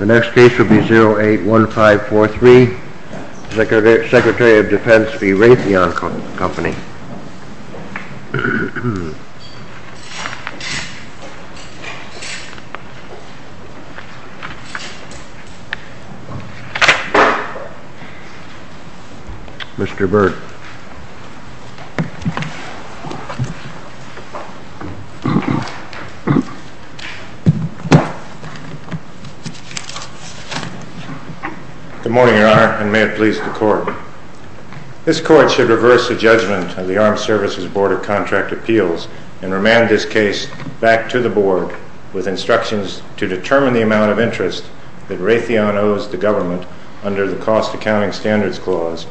The next case will be 081543, Secretary of Defense v. Raytheon Company. Mr. Byrd. Good morning, Your Honor, and may it please the Court. This Court should reverse the judgment of the Armed Services Board of Contract Appeals and remand this case back to the Board with instructions to determine the amount of interest that Raytheon owes the Government under the Cost Accounting Standards Clause,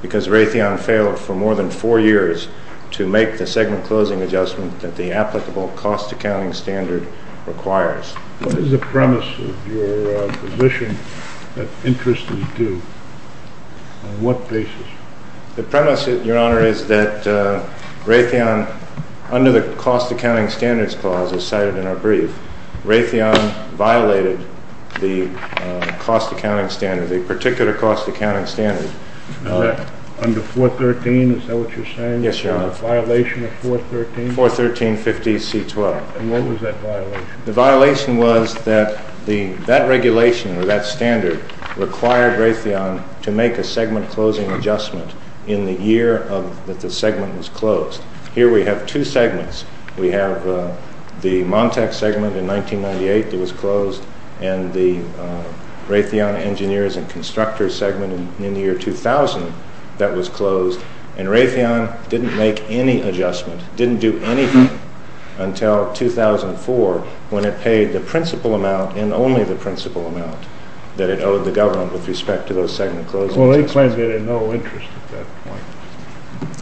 because Raytheon failed for more than four years to make the segment closing adjustment that the applicable Cost Accounting Standard requires. What is the premise of your position that interest is due? On what basis? The premise, Your Honor, is that Raytheon, under the Cost Accounting Standards Clause, as cited in our brief, Raytheon violated the Cost Accounting Standard, the particular Cost Accounting Standard. Is that under 413? Is that what you're saying? Yes, Your Honor. A violation of 413? And what was that violation? The violation was that that regulation, or that standard, required Raytheon to make a segment closing adjustment in the year that the segment was closed. Well, they claimed they had no interest at that point.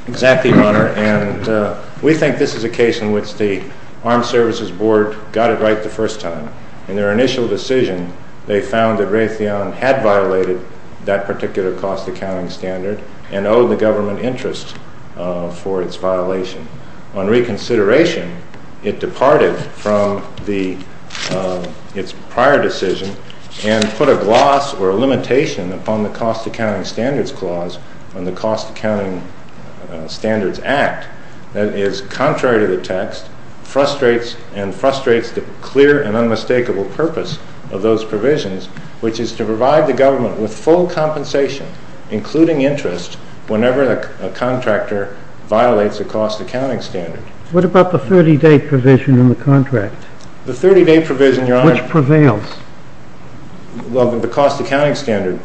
Exactly, Your Honor, and we think this is a case in which the Armed Services Board got it right the first time. In their initial decision, they found that Raytheon had violated that particular Cost Accounting Standard and owed the Government interest for its violation. On reconsideration, it departed from its prior decision and put a gloss or a limitation upon the Cost Accounting Standards Clause and the Cost Accounting Standards Act that is contrary to the text, and frustrates the clear and unmistakable purpose of those provisions, which is to provide the Government with full compensation, including interest, whenever a contractor violates a Cost Accounting Standard. What about the 30-day provision in the contract? The 30-day provision, Your Honor. Which prevails? Well, the Cost Accounting Standards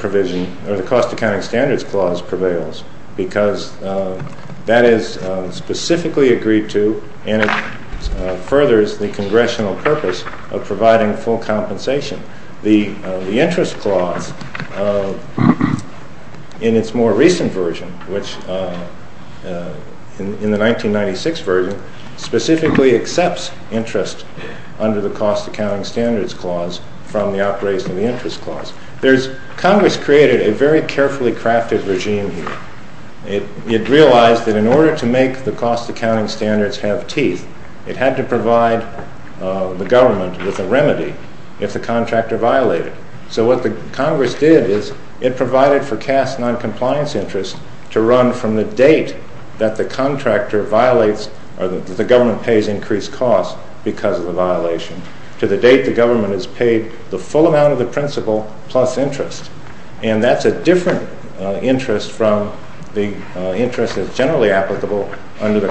Clause prevails because that is specifically agreed to and it furthers the Congressional purpose of providing full compensation. The Interest Clause, in its more recent version, which in the 1996 version, specifically accepts interest under the Cost Accounting Standards Clause from the outgrazing of the Interest Clause. Congress created a very carefully crafted regime here. It realized that in order to make the Cost Accounting Standards have teeth, it had to provide the Government with a remedy if the contractor violated. So what the Congress did is it provided for cast non-compliance interest to run from the date that the contractor violates or that the Government pays increased costs because of the violation to the date the Government has paid the full amount of the principal plus interest. And that's a different interest from the interest that's generally applicable under the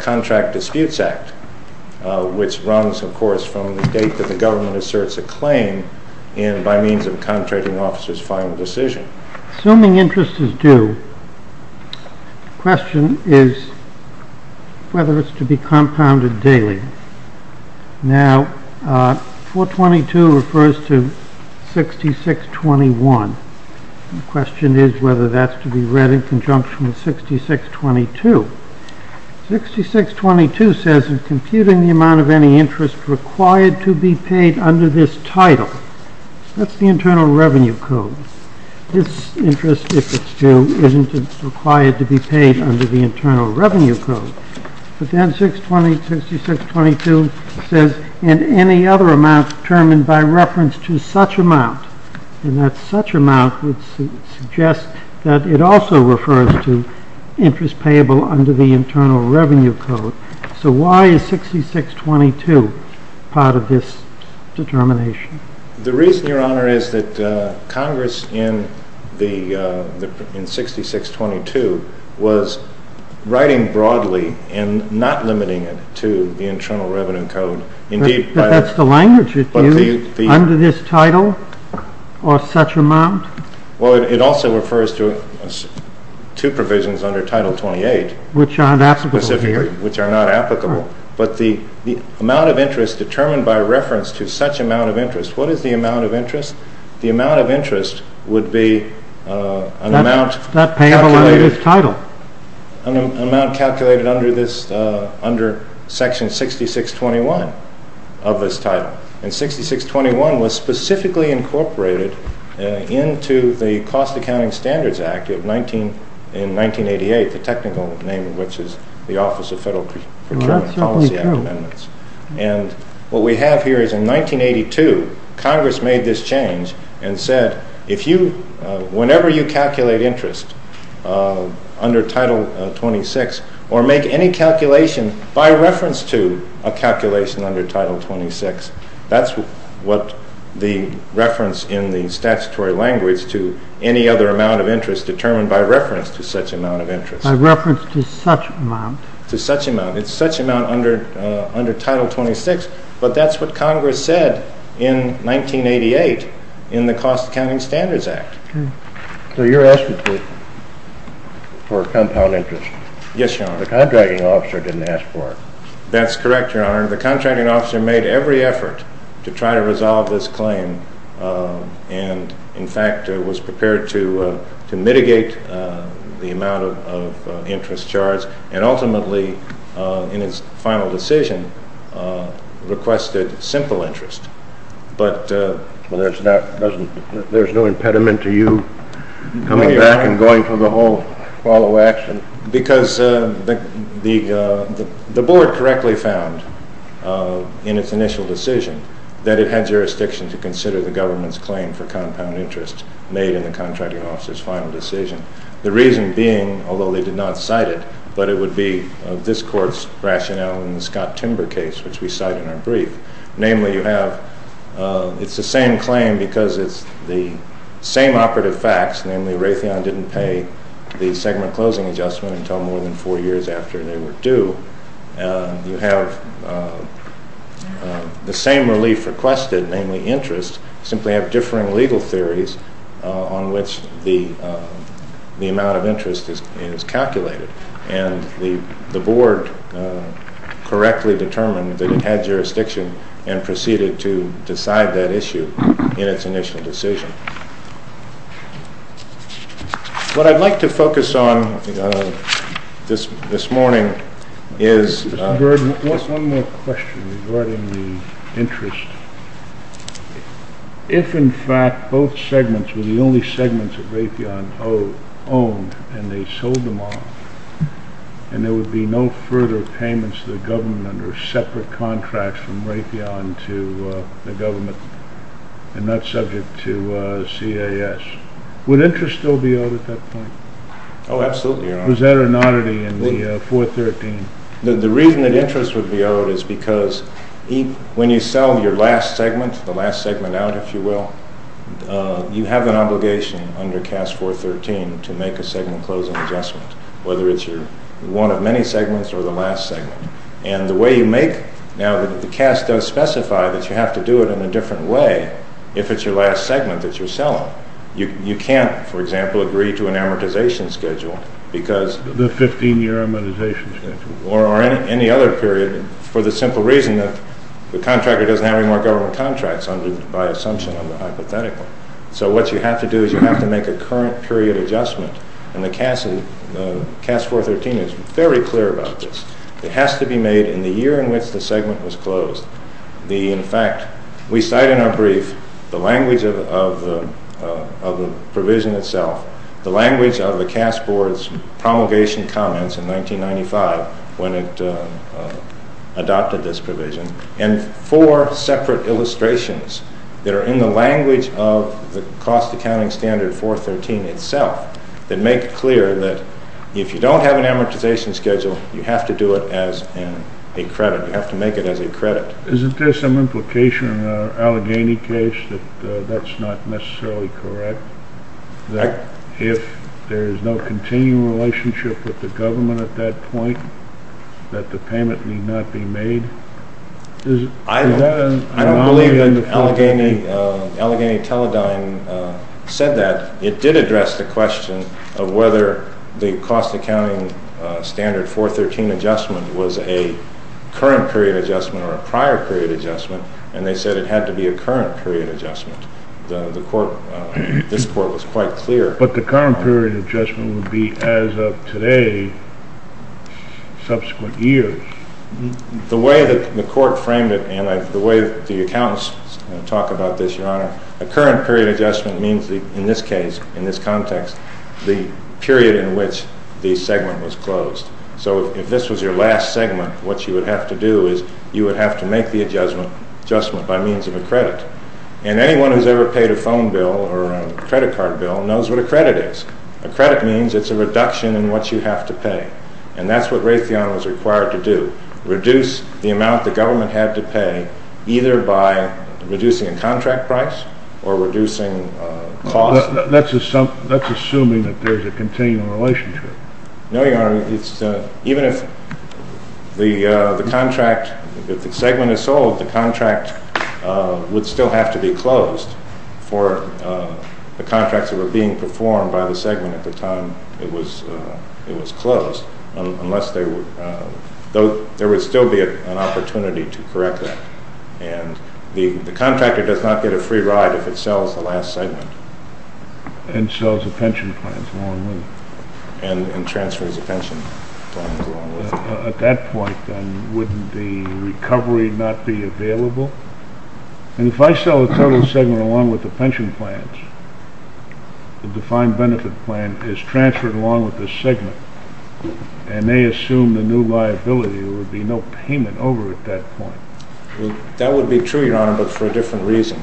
Contract Disputes Act, which runs, of course, from the date that the Government asserts a claim and by means of a contracting officer's final decision. Assuming interest is due, the question is whether it's to be compounded daily. Now, 422 refers to 6621. The question is whether that's to be read in conjunction with 6622. 6622 says, in computing the amount of any interest required to be paid under this title, that's the Internal Revenue Code. This interest, if it's due, isn't required to be paid under the Internal Revenue Code. But then 6622 says, in any other amount determined by reference to such amount, and that such amount would suggest that it also refers to interest payable under the Internal Revenue Code. So why is 6622 part of this determination? The reason, Your Honor, is that Congress in 6622 was writing broadly and not limiting it to the Internal Revenue Code. But that's the language it used, under this title, or such amount? Well, it also refers to two provisions under Title 28. Which aren't applicable here. But the amount of interest determined by reference to such amount of interest, what is the amount of interest? The amount of interest would be an amount calculated under Section 6621 of this title. And 6621 was specifically incorporated into the Cost Accounting Standards Act in 1988, the technical name of which is the Office of Federal Procurement and Policy Amendments. And what we have here is in 1982, Congress made this change and said, whenever you calculate interest under Title 26, or make any calculation by reference to a calculation under Title 26, that's what the reference in the statutory language to any other amount of interest determined by reference to such amount of interest. By reference to such amount? It's such amount under Title 26, but that's what Congress said in 1988 in the Cost Accounting Standards Act. So you're asking for compound interest? Yes, Your Honor. The contracting officer didn't ask for it? That's correct, Your Honor. The contracting officer made every effort to try to resolve this claim and, in fact, was prepared to mitigate the amount of interest charged and ultimately, in his final decision, requested simple interest. But there's no impediment to you coming back and going for the whole follow action? Because the board correctly found in its initial decision that it had jurisdiction to consider the government's claim for compound interest made in the contracting officer's final decision. The reason being, although they did not cite it, but it would be this court's rationale in the Scott-Timber case, which we cite in our brief. Namely, it's the same claim because it's the same operative facts. Namely, Raytheon didn't pay the segment closing adjustment until more than four years after they were due. You have the same relief requested, namely interest, simply have differing legal theories on which the amount of interest is calculated. And the board correctly determined that it had jurisdiction and proceeded to decide that issue in its initial decision. What I'd like to focus on this morning is… What segments were the only segments that Raytheon owned and they sold them off and there would be no further payments to the government under separate contracts from Raytheon to the government and not subject to CAS? Would interest still be owed at that point? Oh, absolutely. Was there an oddity in the 413? The reason that interest would be owed is because when you sell your last segment, the last segment out, if you will, you have an obligation under CAS 413 to make a segment closing adjustment, whether it's your one of many segments or the last segment. And the way you make… Now, the CAS does specify that you have to do it in a different way if it's your last segment that you're selling. You can't, for example, agree to an amortization schedule because… The 15-year amortization schedule. Or any other period for the simple reason that the contractor doesn't have any more government contracts by assumption, hypothetically. So what you have to do is you have to make a current period adjustment and the CAS 413 is very clear about this. It has to be made in the year in which the segment was closed. In fact, we cite in our brief the language of the provision itself, the language of the CAS Board's promulgation comments in 1995 when it adopted this provision, and four separate illustrations that are in the language of the cost accounting standard 413 itself that make it clear that if you don't have an amortization schedule, you have to do it as a credit. You have to make it as a credit. Isn't there some implication in the Allegheny case that that's not necessarily correct? That if there's no continuing relationship with the government at that point, that the payment need not be made? I don't believe Allegheny Teledyne said that. It did address the question of whether the cost accounting standard 413 adjustment was a current period adjustment or a prior period adjustment, and they said it had to be a current period adjustment. This court was quite clear. But the current period adjustment would be as of today, subsequent years. The way the court framed it and the way the accountants talk about this, Your Honor, a current period adjustment means in this case, in this context, the period in which the segment was closed. So if this was your last segment, what you would have to do is you would have to make the adjustment by means of a credit. And anyone who's ever paid a phone bill or a credit card bill knows what a credit is. A credit means it's a reduction in what you have to pay. And that's what Raytheon was required to do, reduce the amount the government had to pay either by reducing a contract price or reducing costs. That's assuming that there's a continuing relationship. No, Your Honor. Even if the contract, if the segment is sold, the contract would still have to be closed for the contracts that were being performed by the segment at the time it was closed. There would still be an opportunity to correct that. And the contractor does not get a free ride if it sells the last segment. And sells the pension plans along with it. And transfers the pension plans along with it. At that point, then, wouldn't the recovery not be available? And if I sell the total segment along with the pension plans, the defined benefit plan is transferred along with the segment, and they assume the new liability, there would be no payment over at that point. That would be true, Your Honor, but for a different reason.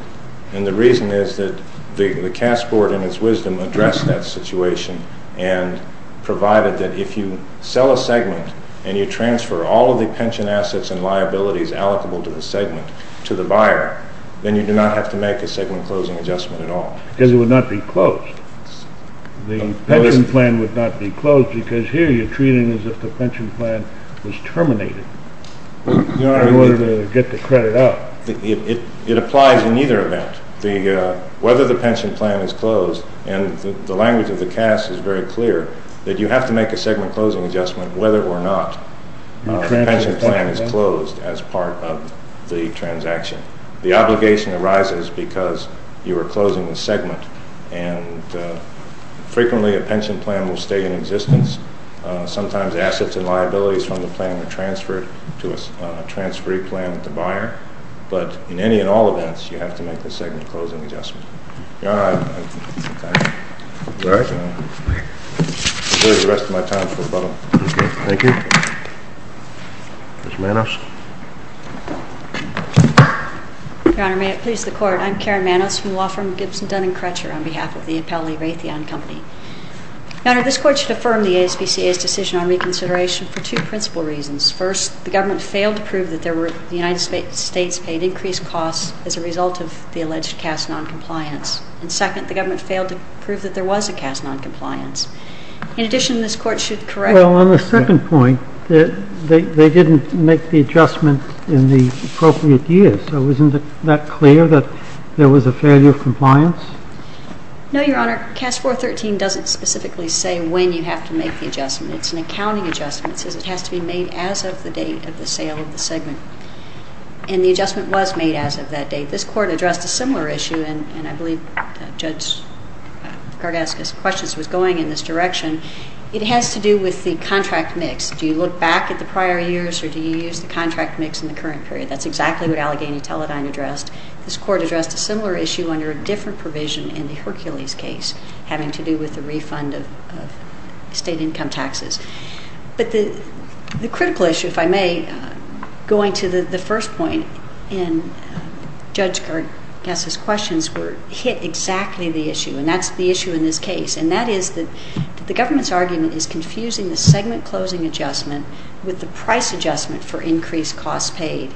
And the reason is that the CAS Board, in its wisdom, addressed that situation and provided that if you sell a segment and you transfer all of the pension assets and liabilities allocable to the segment to the buyer, then you do not have to make a segment closing adjustment at all. Because it would not be closed. The pension plan would not be closed because here you're treating it as if the pension plan was terminated in order to get the credit out. It applies in either event. Whether the pension plan is closed, and the language of the CAS is very clear, that you have to make a segment closing adjustment whether or not the pension plan is closed as part of the transaction. The obligation arises because you are closing the segment. And frequently a pension plan will stay in existence. Sometimes assets and liabilities from the plan are transferred to a transferee plan with the buyer. But in any and all events, you have to make the segment closing adjustment. Your Honor, I thank you. Where's the rest of my time? Thank you. Ms. Manos. Your Honor, may it please the Court, I'm Karen Manos from the law firm Gibson, Dun & Crutcher on behalf of the Appellee Raytheon Company. Your Honor, this Court should affirm the ASPCA's decision on reconsideration for two principal reasons. First, the government failed to prove that the United States paid increased costs as a result of the alleged CAS noncompliance. And second, the government failed to prove that there was a CAS noncompliance. In addition, this Court should correct... Well, on the second point, they didn't make the adjustment in the appropriate year. So isn't that clear that there was a failure of compliance? No, Your Honor. CAS 413 doesn't specifically say when you have to make the adjustment. It's an accounting adjustment. It says it has to be made as of the date of the sale of the segment. And the adjustment was made as of that date. This Court addressed a similar issue, and I believe Judge Gardaschus' questions was going in this direction. It has to do with the contract mix. Do you look back at the prior years or do you use the contract mix in the current period? That's exactly what Allegheny Teledyne addressed. This Court addressed a similar issue under a different provision in the Hercules case, having to do with the refund of state income taxes. But the critical issue, if I may, going to the first point in Judge Gardaschus' questions, hit exactly the issue, and that's the issue in this case, and that is that the government's argument is confusing the segment closing adjustment with the price adjustment for increased costs paid.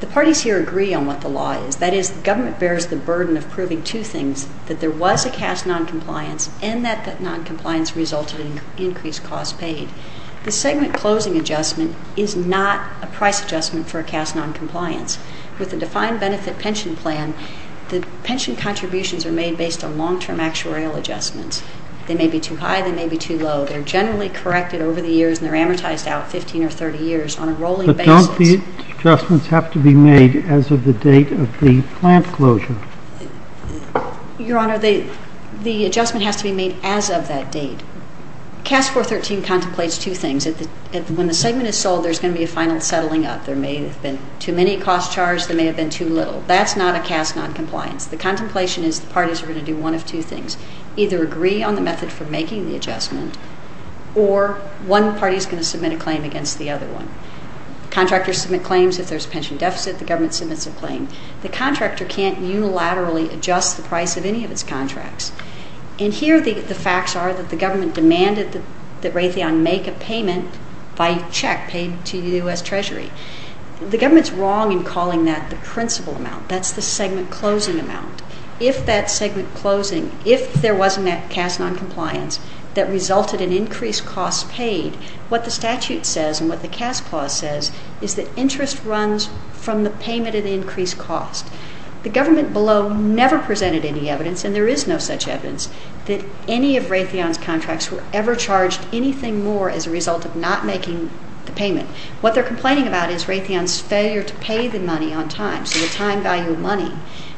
The parties here agree on what the law is. That is, the government bears the burden of proving two things, that there was a cast noncompliance and that that noncompliance resulted in increased costs paid. The segment closing adjustment is not a price adjustment for a cast noncompliance. With a defined benefit pension plan, the pension contributions are made based on long-term actuarial adjustments. They may be too high. They may be too low. They're generally corrected over the years, and they're amortized out 15 or 30 years on a rolling basis. Don't the adjustments have to be made as of the date of the plant closure? Your Honor, the adjustment has to be made as of that date. Cast 413 contemplates two things. When the segment is sold, there's going to be a final settling up. There may have been too many costs charged. There may have been too little. That's not a cast noncompliance. The contemplation is the parties are going to do one of two things, either agree on the method for making the adjustment or one party is going to submit a claim against the other one. Contractors submit claims. If there's a pension deficit, the government submits a claim. The contractor can't unilaterally adjust the price of any of its contracts. And here the facts are that the government demanded that Raytheon make a payment by check paid to U.S. Treasury. The government's wrong in calling that the principal amount. That's the segment closing amount. If that segment closing, if there wasn't that cast noncompliance that resulted in increased costs paid, what the statute says and what the cast clause says is that interest runs from the payment at increased cost. The government below never presented any evidence, and there is no such evidence, that any of Raytheon's contracts were ever charged anything more as a result of not making the payment. What they're complaining about is Raytheon's failure to pay the money on time, so the time value of money.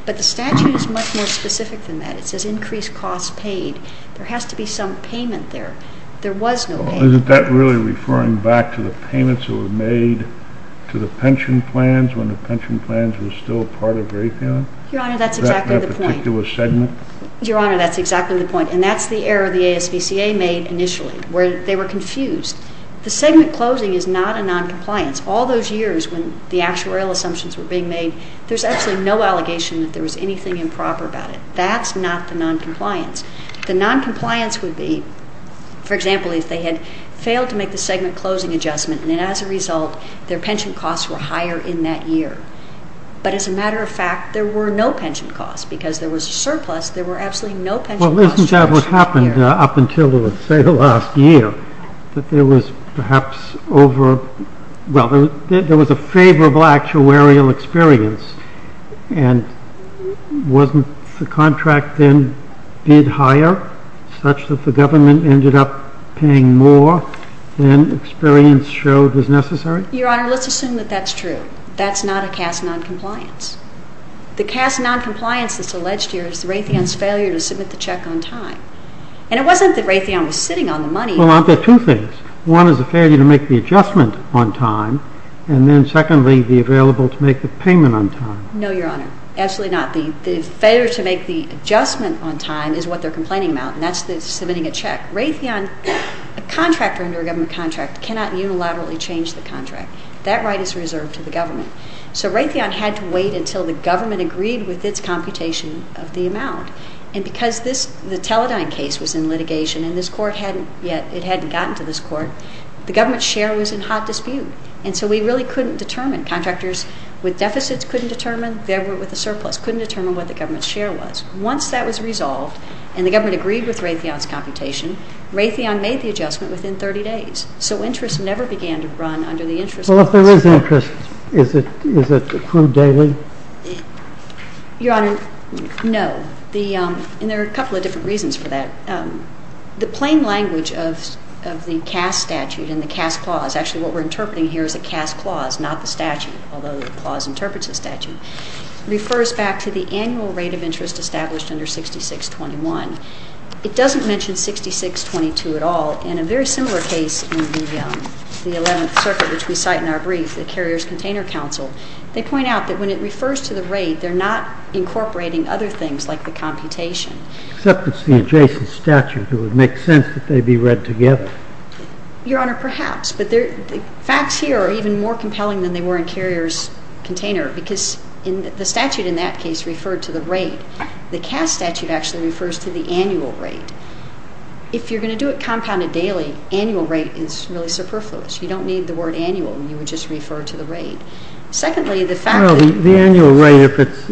But the statute is much more specific than that. It says increased costs paid. There has to be some payment there. There was no payment. Is that really referring back to the payments that were made to the pension plans when the pension plans were still part of Raytheon? Your Honor, that's exactly the point. That particular segment? Your Honor, that's exactly the point. And that's the error the ASVCA made initially, where they were confused. The segment closing is not a noncompliance. All those years when the actuarial assumptions were being made, there's absolutely no allegation that there was anything improper about it. That's not the noncompliance. The noncompliance would be, for example, if they had failed to make the segment closing adjustment, and then as a result their pension costs were higher in that year. But as a matter of fact, there were no pension costs. Because there was a surplus, there were absolutely no pension costs. Well, isn't that what happened up until, let's say, the last year? That there was perhaps over – well, there was a favorable actuarial experience. And wasn't the contract then bid higher, such that the government ended up paying more than experience showed was necessary? Your Honor, let's assume that that's true. That's not a cast noncompliance. The cast noncompliance that's alleged here is Raytheon's failure to submit the check on time. And it wasn't that Raytheon was sitting on the money. Well, aren't there two things? One is the failure to make the adjustment on time, and then secondly, the available to make the payment on time. No, Your Honor, absolutely not. The failure to make the adjustment on time is what they're complaining about, and that's submitting a check. Raytheon, a contractor under a government contract, cannot unilaterally change the contract. That right is reserved to the government. So Raytheon had to wait until the government agreed with its computation of the amount. And because the Teledyne case was in litigation and this court hadn't yet – it hadn't gotten to this court, the government's share was in hot dispute. And so we really couldn't determine. Contractors with deficits couldn't determine. They were with a surplus, couldn't determine what the government's share was. Once that was resolved and the government agreed with Raytheon's computation, Raytheon made the adjustment within 30 days. So interest never began to run under the interest laws. Well, if there is interest, is it accrued daily? Your Honor, no. And there are a couple of different reasons for that. The plain language of the Cass statute and the Cass clause – actually, what we're interpreting here is a Cass clause, not the statute, although the clause interprets the statute – refers back to the annual rate of interest established under 6621. It doesn't mention 6622 at all. In a very similar case in the Eleventh Circuit, which we cite in our brief, the Carrier's Container Council, they point out that when it refers to the rate, they're not incorporating other things like the computation. Except it's the adjacent statute. It would make sense that they be read together. Your Honor, perhaps. But the facts here are even more compelling than they were in Carrier's Container because the statute in that case referred to the rate. The Cass statute actually refers to the annual rate. If you're going to do it compounded daily, annual rate is really superfluous. You don't need the word annual. You would just refer to the rate. Secondly, the fact that— Well, the annual rate, if it's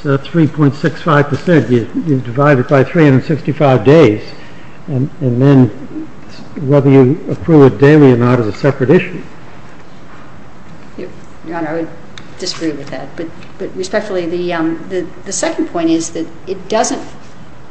3.65 percent, you divide it by 365 days, and then whether you approve it daily or not is a separate issue. Your Honor, I would disagree with that. But respectfully, the second point is that it doesn't—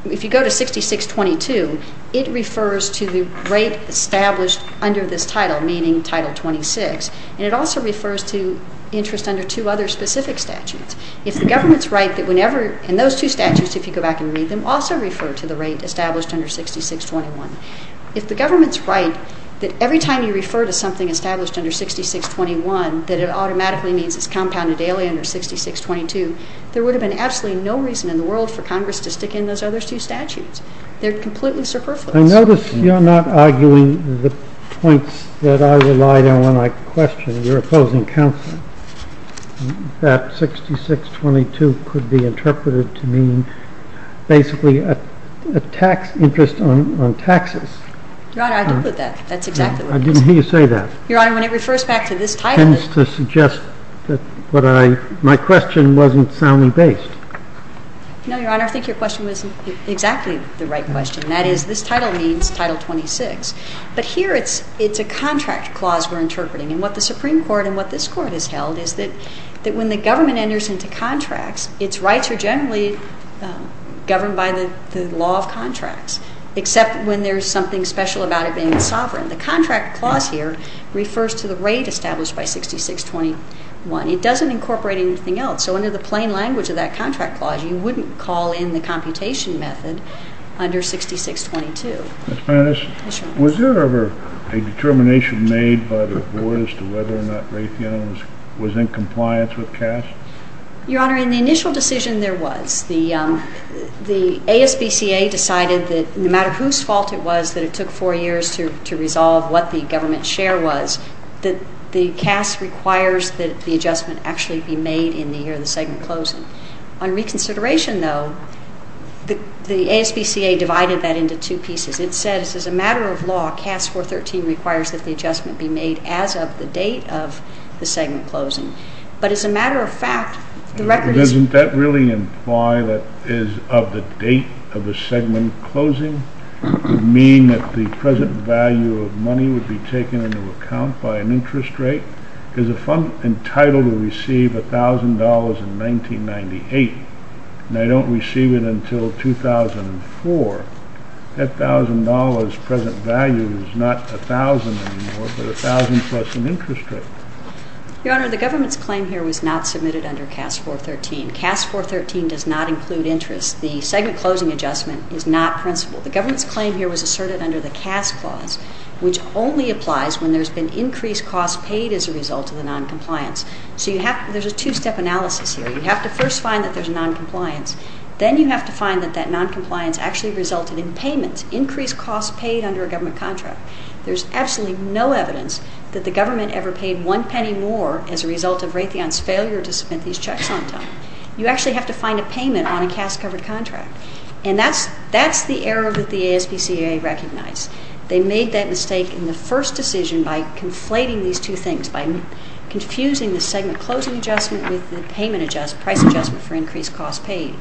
If you go to 6622, it refers to the rate established under this title, meaning Title 26. And it also refers to interest under two other specific statutes. If the government's right that whenever— And those two statutes, if you go back and read them, also refer to the rate established under 6621. If the government's right that every time you refer to something established under 6621 that it automatically means it's compounded daily under 6622, there would have been absolutely no reason in the world for Congress to stick in those other two statutes. They're completely superfluous. I notice you're not arguing the points that I relied on when I questioned your opposing counsel. That 6622 could be interpreted to mean basically a tax—interest on taxes. Your Honor, I agree with that. That's exactly what it is. I didn't hear you say that. Your Honor, when it refers back to this title— It tends to suggest that what I—my question wasn't soundly based. No, Your Honor, I think your question was exactly the right question. That is, this title means Title 26. But here it's a contract clause we're interpreting. And what the Supreme Court and what this Court has held is that when the government enters into contracts, its rights are generally governed by the law of contracts, except when there's something special about it being sovereign. The contract clause here refers to the rate established by 6621. It doesn't incorporate anything else. So under the plain language of that contract clause, you wouldn't call in the computation method under 6622. Was there ever a determination made by the Board as to whether or not Raytheon was in compliance with CAS? Your Honor, in the initial decision, there was. The ASBCA decided that no matter whose fault it was that it took four years to resolve what the government share was, that the CAS requires that the adjustment actually be made in the year of the segment closing. On reconsideration, though, the ASBCA divided that into two pieces. It said, as a matter of law, CAS 413 requires that the adjustment be made as of the date of the segment closing. But as a matter of fact, the record is— Doesn't that really imply that it is of the date of the segment closing? Does it mean that the present value of money would be taken into account by an interest rate? Because if I'm entitled to receive $1,000 in 1998 and I don't receive it until 2004, that $1,000 present value is not $1,000 anymore, but $1,000 plus an interest rate. Your Honor, the government's claim here was not submitted under CAS 413. CAS 413 does not include interest. The segment closing adjustment is not principled. The government's claim here was asserted under the CAS clause, which only applies when there's been increased cost paid as a result of the noncompliance. So you have—there's a two-step analysis here. You have to first find that there's noncompliance. Then you have to find that that noncompliance actually resulted in payments, increased costs paid under a government contract. There's absolutely no evidence that the government ever paid one penny more as a result of Raytheon's failure to submit these checks on time. You actually have to find a payment on a CAS-covered contract. And that's the error that the ASPCA recognized. They made that mistake in the first decision by conflating these two things, by confusing the segment closing adjustment with the price adjustment for increased cost paid.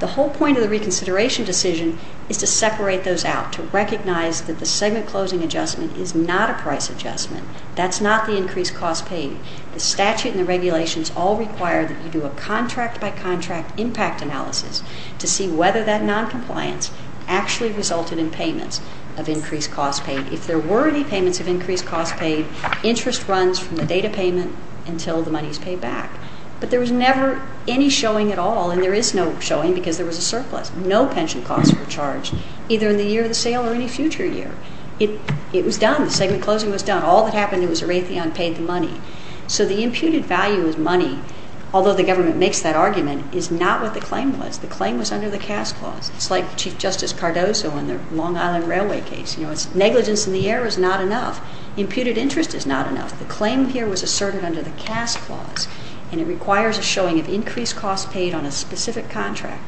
The whole point of the reconsideration decision is to separate those out, to recognize that the segment closing adjustment is not a price adjustment. That's not the increased cost paid. The statute and the regulations all require that you do a contract-by-contract impact analysis to see whether that noncompliance actually resulted in payments of increased cost paid. If there were any payments of increased cost paid, interest runs from the date of payment until the money is paid back. But there was never any showing at all, and there is no showing because there was a surplus. No pension costs were charged, either in the year of the sale or any future year. It was done. The segment closing was done. All that happened was Raytheon paid the money. So the imputed value of money, although the government makes that argument, is not what the claim was. The claim was under the CAS clause. It's like Chief Justice Cardozo and the Long Island Railway case. Negligence in the air is not enough. Imputed interest is not enough. The claim here was asserted under the CAS clause, and it requires a showing of increased cost paid on a specific contract,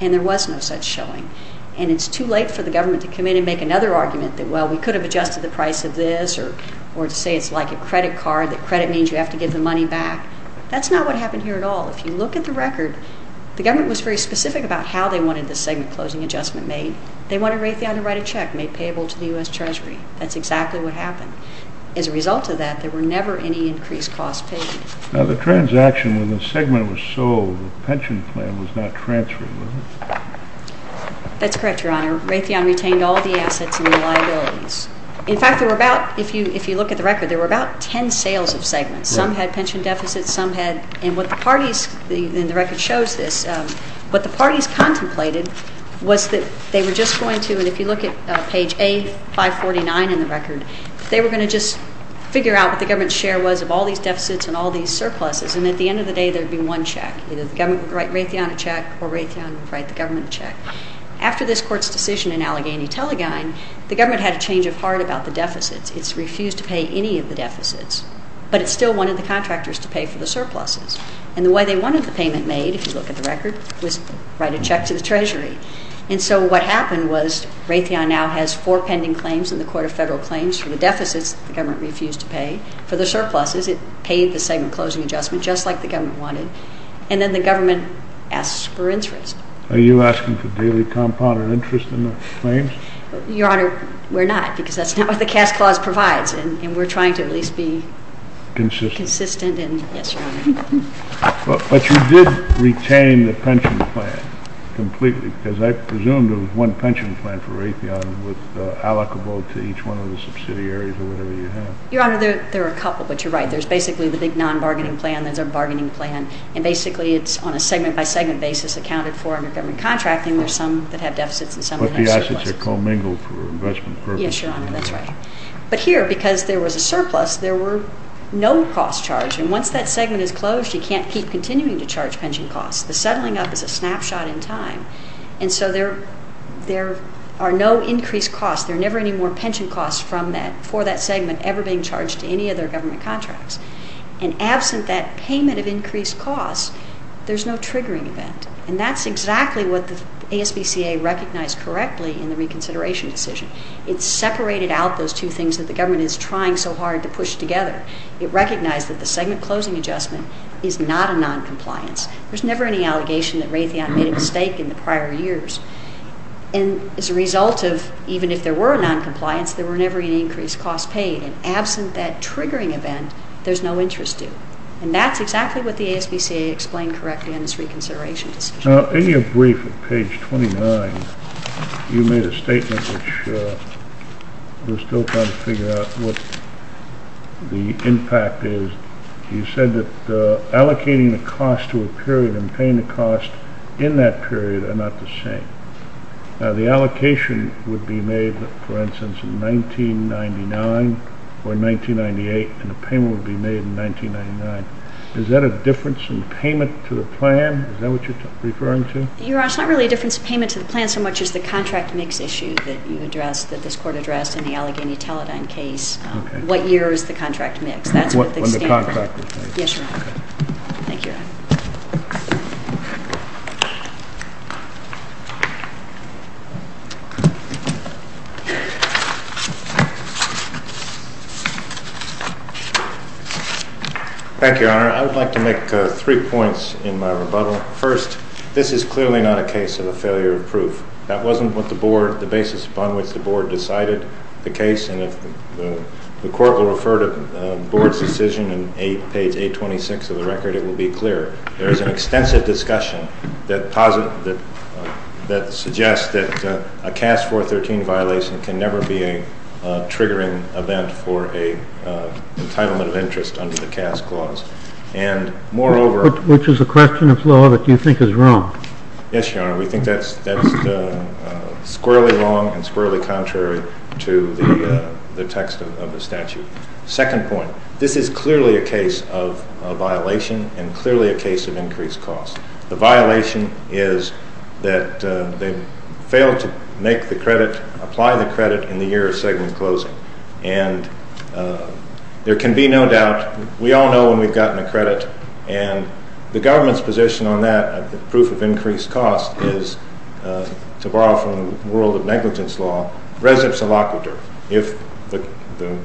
and there was no such showing. And it's too late for the government to come in and make another argument that, well, we could have adjusted the price of this, or to say it's like a credit card, that credit means you have to give the money back. That's not what happened here at all. If you look at the record, the government was very specific about how they wanted the segment closing adjustment made. They wanted Raytheon to write a check made payable to the U.S. Treasury. That's exactly what happened. As a result of that, there were never any increased cost paid. Now, the transaction when the segment was sold, the pension plan was not transferred, was it? That's correct, Your Honor. Raytheon retained all the assets and the liabilities. In fact, there were about, if you look at the record, there were about ten sales of segments. Some had pension deficits. Some had, and what the parties, and the record shows this, what the parties contemplated was that they were just going to, and if you look at page A549 in the record, they were going to just figure out what the government's share was of all these deficits and all these surpluses. And at the end of the day, there would be one check. Either the government would write Raytheon a check, or Raytheon would write the government a check. After this court's decision in Allegheny-Tellegein, the government had a change of heart about the deficits. It's refused to pay any of the deficits, but it still wanted the contractors to pay for the surpluses. And the way they wanted the payment made, if you look at the record, was write a check to the treasury. And so what happened was Raytheon now has four pending claims in the Court of Federal Claims for the deficits the government refused to pay for the surpluses. It paid the segment closing adjustment just like the government wanted, and then the government asks for interest. Are you asking for daily compounded interest in the claims? Your Honor, we're not, because that's not what the Caste Clause provides, and we're trying to at least be consistent, and yes, Your Honor. But you did retain the pension plan completely, because I presumed there was one pension plan for Raytheon that was allocable to each one of the subsidiaries or whatever you have. Your Honor, there are a couple, but you're right. There's basically the big non-bargaining plan, there's a bargaining plan, and basically it's on a segment-by-segment basis accounted for under government contracting. But the assets are commingled for investment purposes. Yes, Your Honor, that's right. But here, because there was a surplus, there were no costs charged, and once that segment is closed, you can't keep continuing to charge pension costs. The settling up is a snapshot in time, and so there are no increased costs. There are never any more pension costs for that segment ever being charged to any other government contracts. And absent that payment of increased costs, there's no triggering event. And that's exactly what the ASBCA recognized correctly in the reconsideration decision. It separated out those two things that the government is trying so hard to push together. It recognized that the segment-closing adjustment is not a noncompliance. There's never any allegation that Raytheon made a mistake in the prior years. And as a result of even if there were a noncompliance, there were never any increased costs paid. And absent that triggering event, there's no interest due. And that's exactly what the ASBCA explained correctly in this reconsideration decision. Now, in your brief at page 29, you made a statement which we're still trying to figure out what the impact is. You said that allocating the cost to a period and paying the cost in that period are not the same. Now, the allocation would be made, for instance, in 1999 or 1998, and the payment would be made in 1999. Is that a difference in payment to the plan? Is that what you're referring to? Your Honor, it's not really a difference in payment to the plan so much as the contract mix issue that you addressed, that this Court addressed in the Allegheny-Teledyne case. Okay. What year is the contract mix? When the contract was made. Yes, Your Honor. Thank you, Your Honor. Thank you, Your Honor. I would like to make three points in my rebuttal. First, this is clearly not a case of a failure of proof. That wasn't what the Board, the basis upon which the Board decided the case. And if the Court will refer to the Board's decision in page 826 of the record, it will be clear. There is an extensive discussion that suggests that there is a failure of proof. Suggests that a CAS 413 violation can never be a triggering event for an entitlement of interest under the CAS clause. And moreover... Which is a question of law that you think is wrong. Yes, Your Honor. We think that's squarely wrong and squarely contrary to the text of the statute. Second point. This is clearly a case of a violation and clearly a case of increased cost. The violation is that they failed to make the credit, apply the credit in the year of segment closing. And there can be no doubt. We all know when we've gotten a credit. And the government's position on that proof of increased cost is, to borrow from the world of negligence law, If the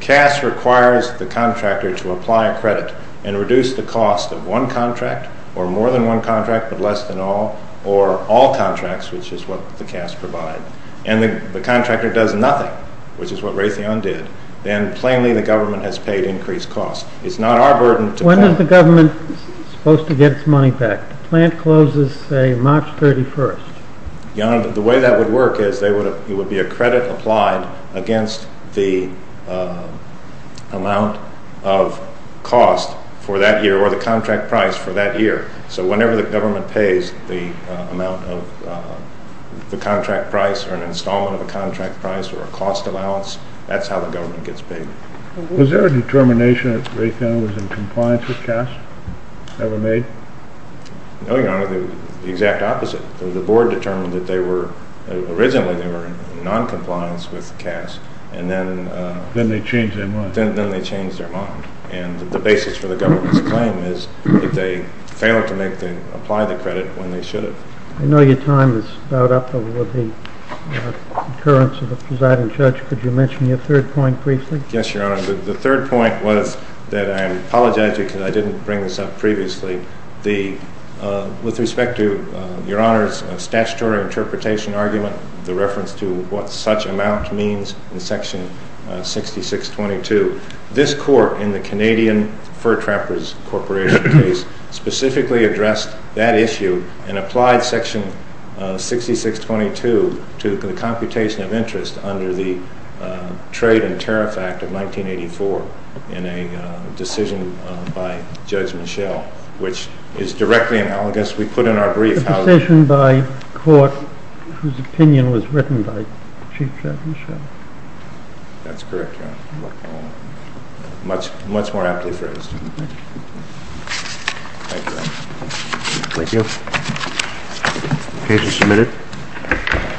CAS requires the contractor to apply a credit and reduce the cost of one contract, or more than one contract but less than all, or all contracts, which is what the CAS provides, and the contractor does nothing, which is what Raytheon did, then plainly the government has paid increased cost. It's not our burden to... When is the government supposed to get its money back? The plant closes, say, March 31st. Your Honor, the way that would work is it would be a credit applied against the amount of cost for that year or the contract price for that year. So whenever the government pays the amount of the contract price or an installment of a contract price or a cost allowance, that's how the government gets paid. Was there a determination that Raytheon was in compliance with CAS ever made? No, Your Honor, the exact opposite. The board determined that originally they were in noncompliance with CAS, and then... Then they changed their mind. Then they changed their mind. And the basis for the government's claim is that they failed to apply the credit when they should have. I know your time is about up with the occurrence of the presiding judge. Could you mention your third point briefly? Yes, Your Honor. The third point was that I apologize to you because I didn't bring this up previously. With respect to Your Honor's statutory interpretation argument, the reference to what such amount means in Section 6622, this court in the Canadian Fur Trappers Corporation case specifically addressed that issue and applied Section 6622 to the computation of interest under the Trade and Tariff Act of 1984 in a decision by Judge Michel, which is directly analogous. We put in our brief how... A decision by court whose opinion was written by Chief Judge Michel. That's correct, Your Honor. Much more aptly phrased. Thank you, Your Honor. Thank you. The case is submitted.